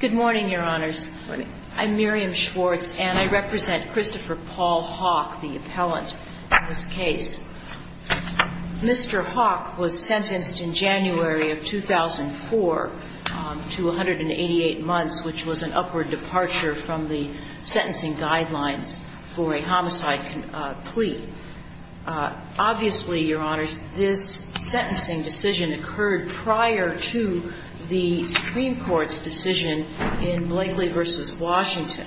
Good morning, Your Honors. I'm Miriam Schwartz, and I represent Christopher Paul Hawk, the appellant in this case. Mr. Hawk was sentenced in January of 2004 to 188 months, which was an upward departure from the sentencing guidelines for a homicide plea. Obviously, Your Honors, this sentencing decision occurred prior to the Supreme Court's decision in Blakely v. Washington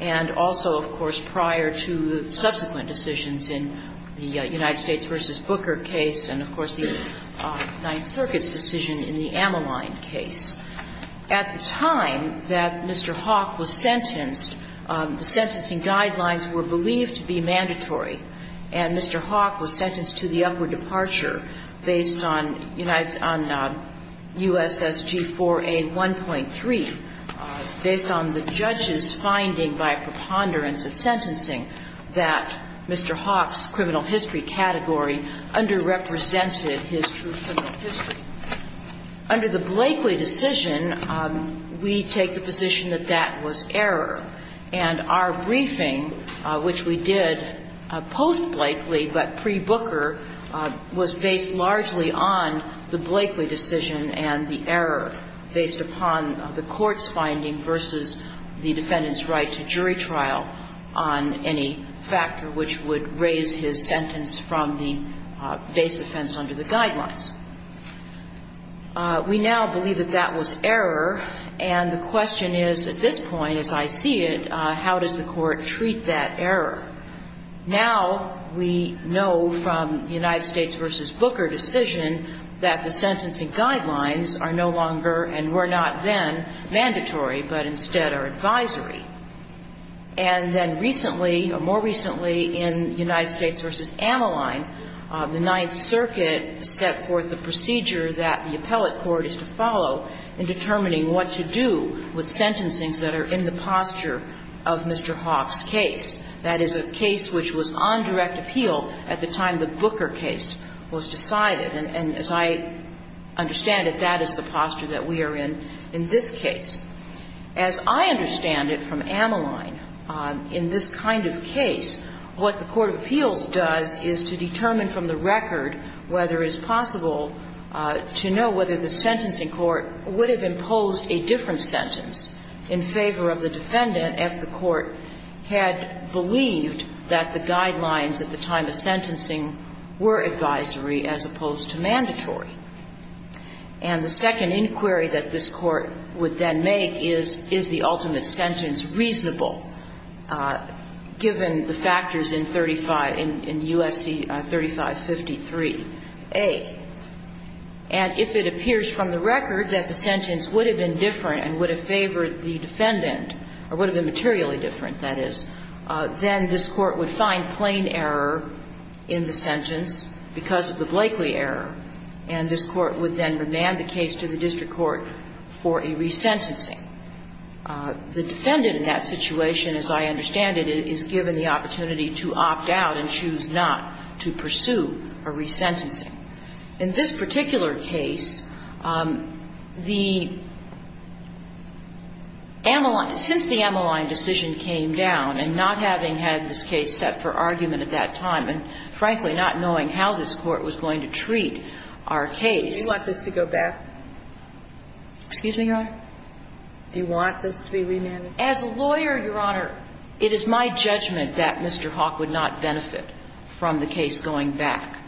and also, of course, prior to subsequent decisions in the United States v. Booker case and, of course, the Ninth Circuit's decision in the Ammaline case. At the time that Mr. Hawk was sentenced, the sentencing guidelines were believed to be mandatory, and Mr. Hawk was sentenced to the upward departure based on USSG 4A 1.3, based on the judge's finding by preponderance of sentencing that Mr. Hawk's criminal history category underrepresented his true criminal history. Under the Blakely decision, we take the position that that was error, and our briefing, which we did post-Blakely but pre-Booker, was based largely on the Blakely decision and the error based upon the Court's finding versus the defendant's right to jury trial on any factor which would raise his sentence from the base offense under the guidelines. We now believe that that was error, and the question is, at this point, as I see it, how does the Court treat that error? Now we know from the United States v. Booker decision that the sentencing guidelines are no longer, and were not then, mandatory, but instead are advisory. And then recently, or more recently, in United States v. Ammaline, the Ninth Circuit set forth the procedure that the appellate court is to follow in determining what to do with sentencings that are in the posture of Mr. Hawk's case. That is a case which was on direct appeal at the time the Booker case was decided. And as I understand it, that is the posture that we are in in this case. As I understand it from Ammaline, in this kind of case, what the court of appeals does is to determine from the record whether it's possible to know whether the sentencing court would have imposed a different sentence in favor of the defendant if the court had believed that the guidelines at the time of sentencing were advisory as opposed to mandatory. And the second inquiry that this Court would then make is, is the ultimate question, is the sentence reasonable given the factors in 35, in U.S.C. 3553a? And if it appears from the record that the sentence would have been different and would have favored the defendant, or would have been materially different, that is, then this Court would find plain error in the sentence because of the Blakely error, and this Court would then remand the case to the district court for a resentencing. The defendant in that situation, as I understand it, is given the opportunity to opt out and choose not to pursue a resentencing. In this particular case, the Ammaline – since the Ammaline decision came down, and not having had this case set for argument at that time, and frankly not knowing how this Court was going to treat our case Do you want this to go back? Excuse me, Your Honor? Do you want this to be remanded? As a lawyer, Your Honor, it is my judgment that Mr. Hawk would not benefit from the case going back.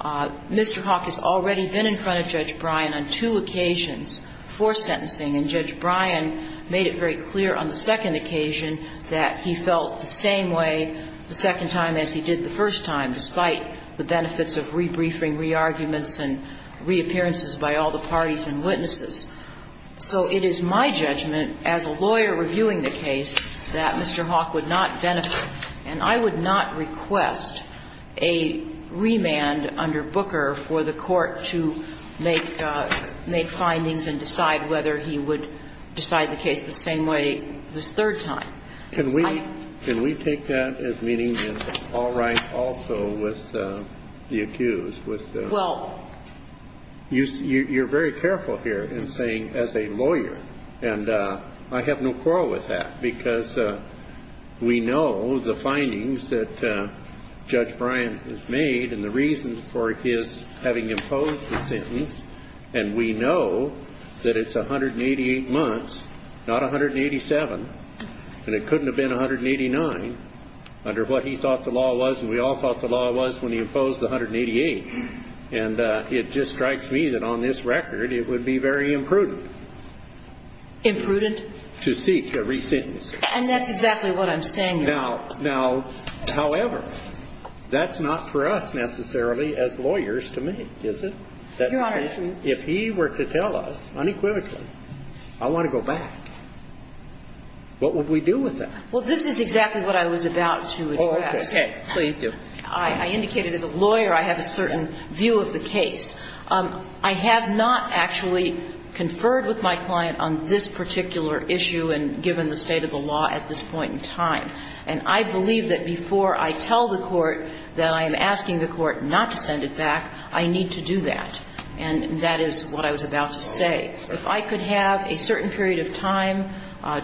Mr. Hawk has already been in front of Judge Bryan on two occasions for sentencing, and Judge Bryan made it very clear on the second occasion that he felt the same way the second time as he did the first time, despite the benefits of rebriefing, rearguments, and reappearances by all the parties and witnesses. So it is my judgment, as a lawyer reviewing the case, that Mr. Hawk would not benefit – and I would not request a remand under Booker for the Court to make findings and decide whether he would decide the case the same way the third time. Can we take that as meaning that it's all right also with the accused? Well, you're very careful here in saying, as a lawyer. And I have no quarrel with that, because we know the findings that Judge Bryan has made and the reasons for his having imposed the sentence, and we know that it's 188 months, not 187, and it couldn't have been 189 under what he thought the law was, and we all thought the law was when he imposed the 188. And it just strikes me that on this record it would be very imprudent. Imprudent? To seek a re-sentence. And that's exactly what I'm saying, Your Honor. Now, however, that's not for us necessarily as lawyers to make, is it? Your Honor. If he were to tell us unequivocally, I want to go back, what would we do with that? Well, this is exactly what I was about to address. Oh, okay. Please do. I indicated as a lawyer I have a certain view of the case. I have not actually conferred with my client on this particular issue and given the point in time. And I believe that before I tell the Court that I am asking the Court not to send it back, I need to do that. And that is what I was about to say. If I could have a certain period of time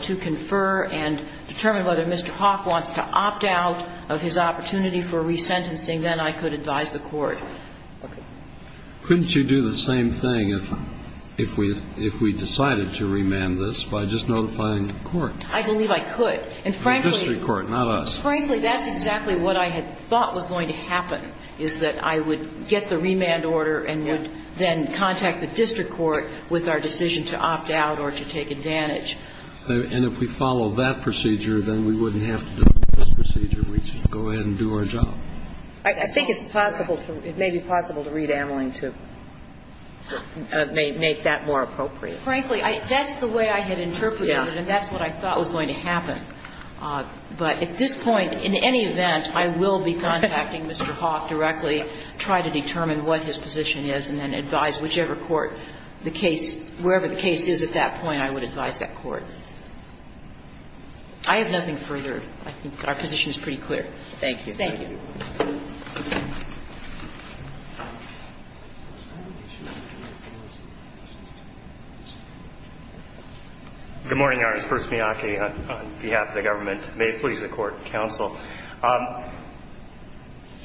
to confer and determine whether Mr. Hawk wants to opt out of his opportunity for re-sentencing, then I could advise the Court. Couldn't you do the same thing if we decided to remand this by just notifying the Court? I believe I could. In the district court, not us. Frankly, that's exactly what I had thought was going to happen, is that I would get the remand order and would then contact the district court with our decision to opt out or to take advantage. And if we follow that procedure, then we wouldn't have to do this procedure. We'd just go ahead and do our job. I think it's possible to, it may be possible to read Ameling to make that more appropriate. But frankly, that's the way I had interpreted it, and that's what I thought was going to happen. But at this point, in any event, I will be contacting Mr. Hawk directly, try to determine what his position is, and then advise whichever court the case, wherever the case is at that point, I would advise that court. I have nothing further. I think our position is pretty clear. Thank you. Thank you. Good morning, Your Honor. Bruce Miyake on behalf of the government. May it please the court, counsel.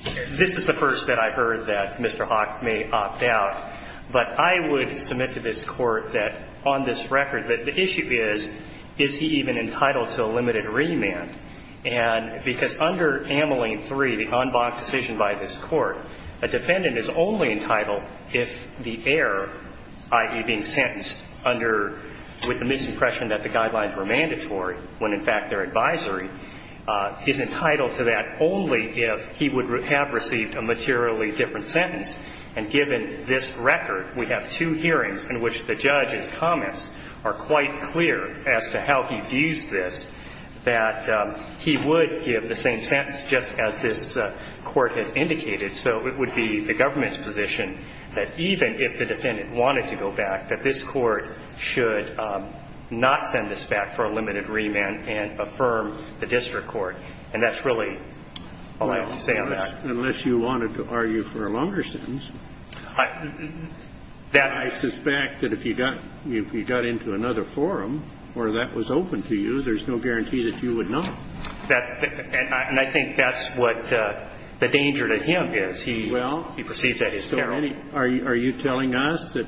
This is the first that I've heard that Mr. Hawk may opt out. But I would submit to this court that on this record, that the issue is, is he even entitled to a limited remand? I think what the court has said is that, in this case, this is a fairly unblocked decision by this court. A defendant is only entitled if the heir, i.e., being sentenced under, with the misimpression that the guidelines were mandatory, when in fact they're advisory, is entitled to that only if he would have received a materially different sentence. And given this record, we have two hearings in which the judge's comments are quite clear as to how he views this, that he would give the same sentence just as this court has indicated. So it would be the government's position that even if the defendant wanted to go back, that this court should not send this back for a limited remand and affirm the district court. And that's really all I have to say on that. Kennedy. And I think that's what the danger to him is. He proceeds at his peril. Well, are you telling us that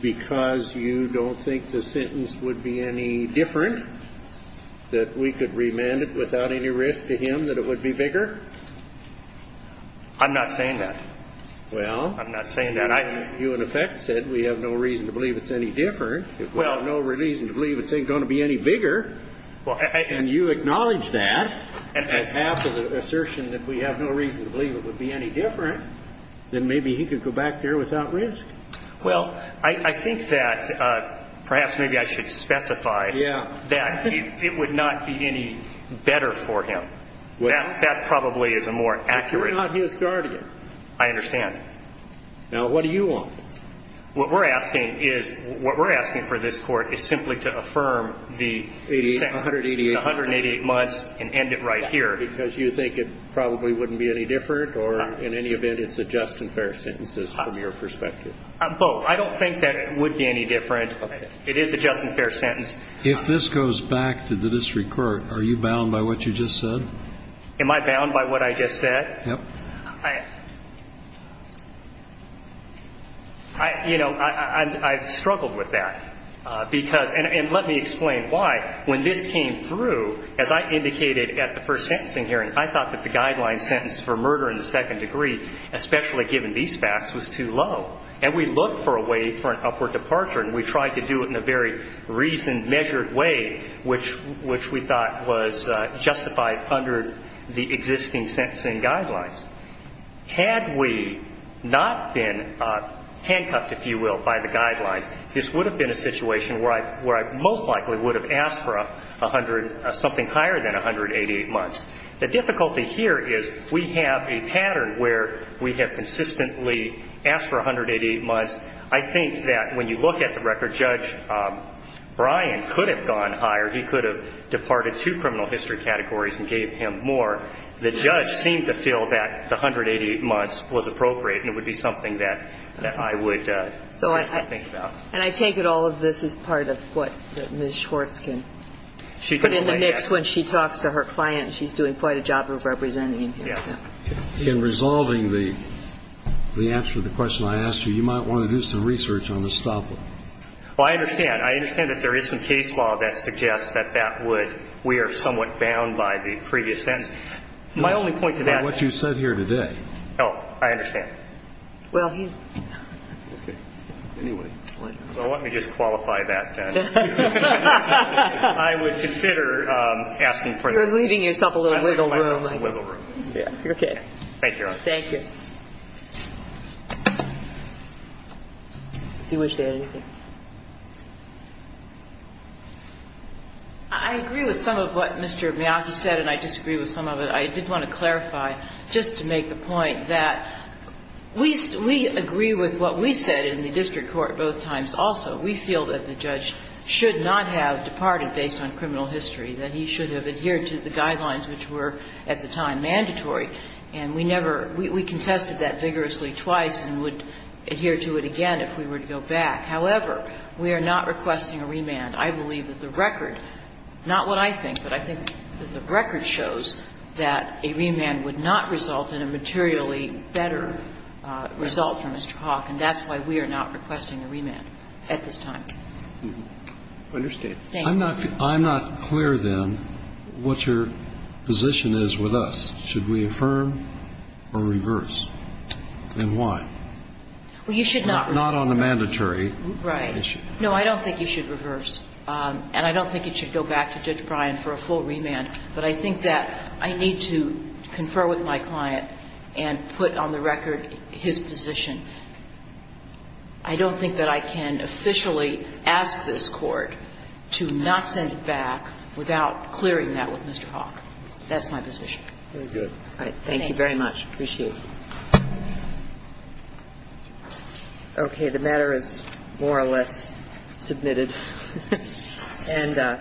because you don't think the sentence would be any different, that we could remand it without any risk to him, that it would be bigger? I don't think so. I don't think so. I'm not saying that. Well. I'm not saying that. You, in effect, said we have no reason to believe it's any different. We have no reason to believe it's going to be any bigger. And you acknowledge that as half of the assertion that we have no reason to believe it would be any different, then maybe he could go back there without risk. Well, I think that perhaps maybe I should specify that it would not be any better for him. That probably is a more accurate. But you're not his guardian. I understand. Now, what do you want? What we're asking is, what we're asking for this court is simply to affirm the sentence in 188 months and end it right here. Because you think it probably wouldn't be any different or in any event it's a just and fair sentence from your perspective. Both. I don't think that it would be any different. It is a just and fair sentence. If this goes back to the district court, are you bound by what you just said? Am I bound by what I just said? Yes. You know, I've struggled with that. And let me explain why. When this came through, as I indicated at the first sentencing hearing, I thought that the guideline sentence for murder in the second degree, especially given these facts, was too low. And we looked for a way for an upward departure, and we tried to do it in a very reasoned, measured way, which we thought was justified under the existing sentencing guidelines. Had we not been handcuffed, if you will, by the guidelines, this would have been a situation where I most likely would have asked for something higher than 188 months. The difficulty here is we have a pattern where we have consistently asked for 188 months. I think that when you look at the record, Judge Bryan could have gone higher. He could have departed two criminal history categories and gave him more. The judge seemed to feel that the 188 months was appropriate, and it would be something that I would think about. And I take it all of this is part of what Ms. Schwartz can put in the mix when she talks to her client, and she's doing quite a job of representing him. Yes. In resolving the answer to the question I asked you, you might want to do some research on the stopper. Well, I understand. I understand that there is some case law that suggests that that would we are somewhat bound by the previous sentence. My only point to that is... By what you said here today. Oh, I understand. Well, he's... Okay. Anyway. So let me just qualify that. I would consider asking for... You're leaving yourself a little wiggle room. Thank you, Your Honor. Thank you. Do you wish to add anything? I agree with some of what Mr. Miyata said, and I disagree with some of it. I did want to clarify, just to make the point that we agree with what we said in the district court both times also. We feel that the judge should not have departed based on criminal history, that he should have adhered to the guidelines which were at the time mandatory. And we never we contested that vigorously twice and would adhere to it again if we were to go back. However, we are not requesting a remand. I believe that the record, not what I think, but I think that the record shows that a remand would not result in a materially better result for Mr. Hawk, and that's why we are not requesting a remand at this time. I understand. Thank you. I'm not clear, then, what your position is with us. Should we affirm or reverse? And why? Well, you should not. Not on a mandatory issue. Right. No, I don't think you should reverse. And I don't think it should go back to Judge Bryan for a full remand. But I think that I need to confer with my client and put on the record his position. I don't think that I can officially ask this Court to not send it back without clearing that with Mr. Hawk. That's my position. Very good. Thank you very much. Appreciate it. Okay. The matter is more or less submitted. And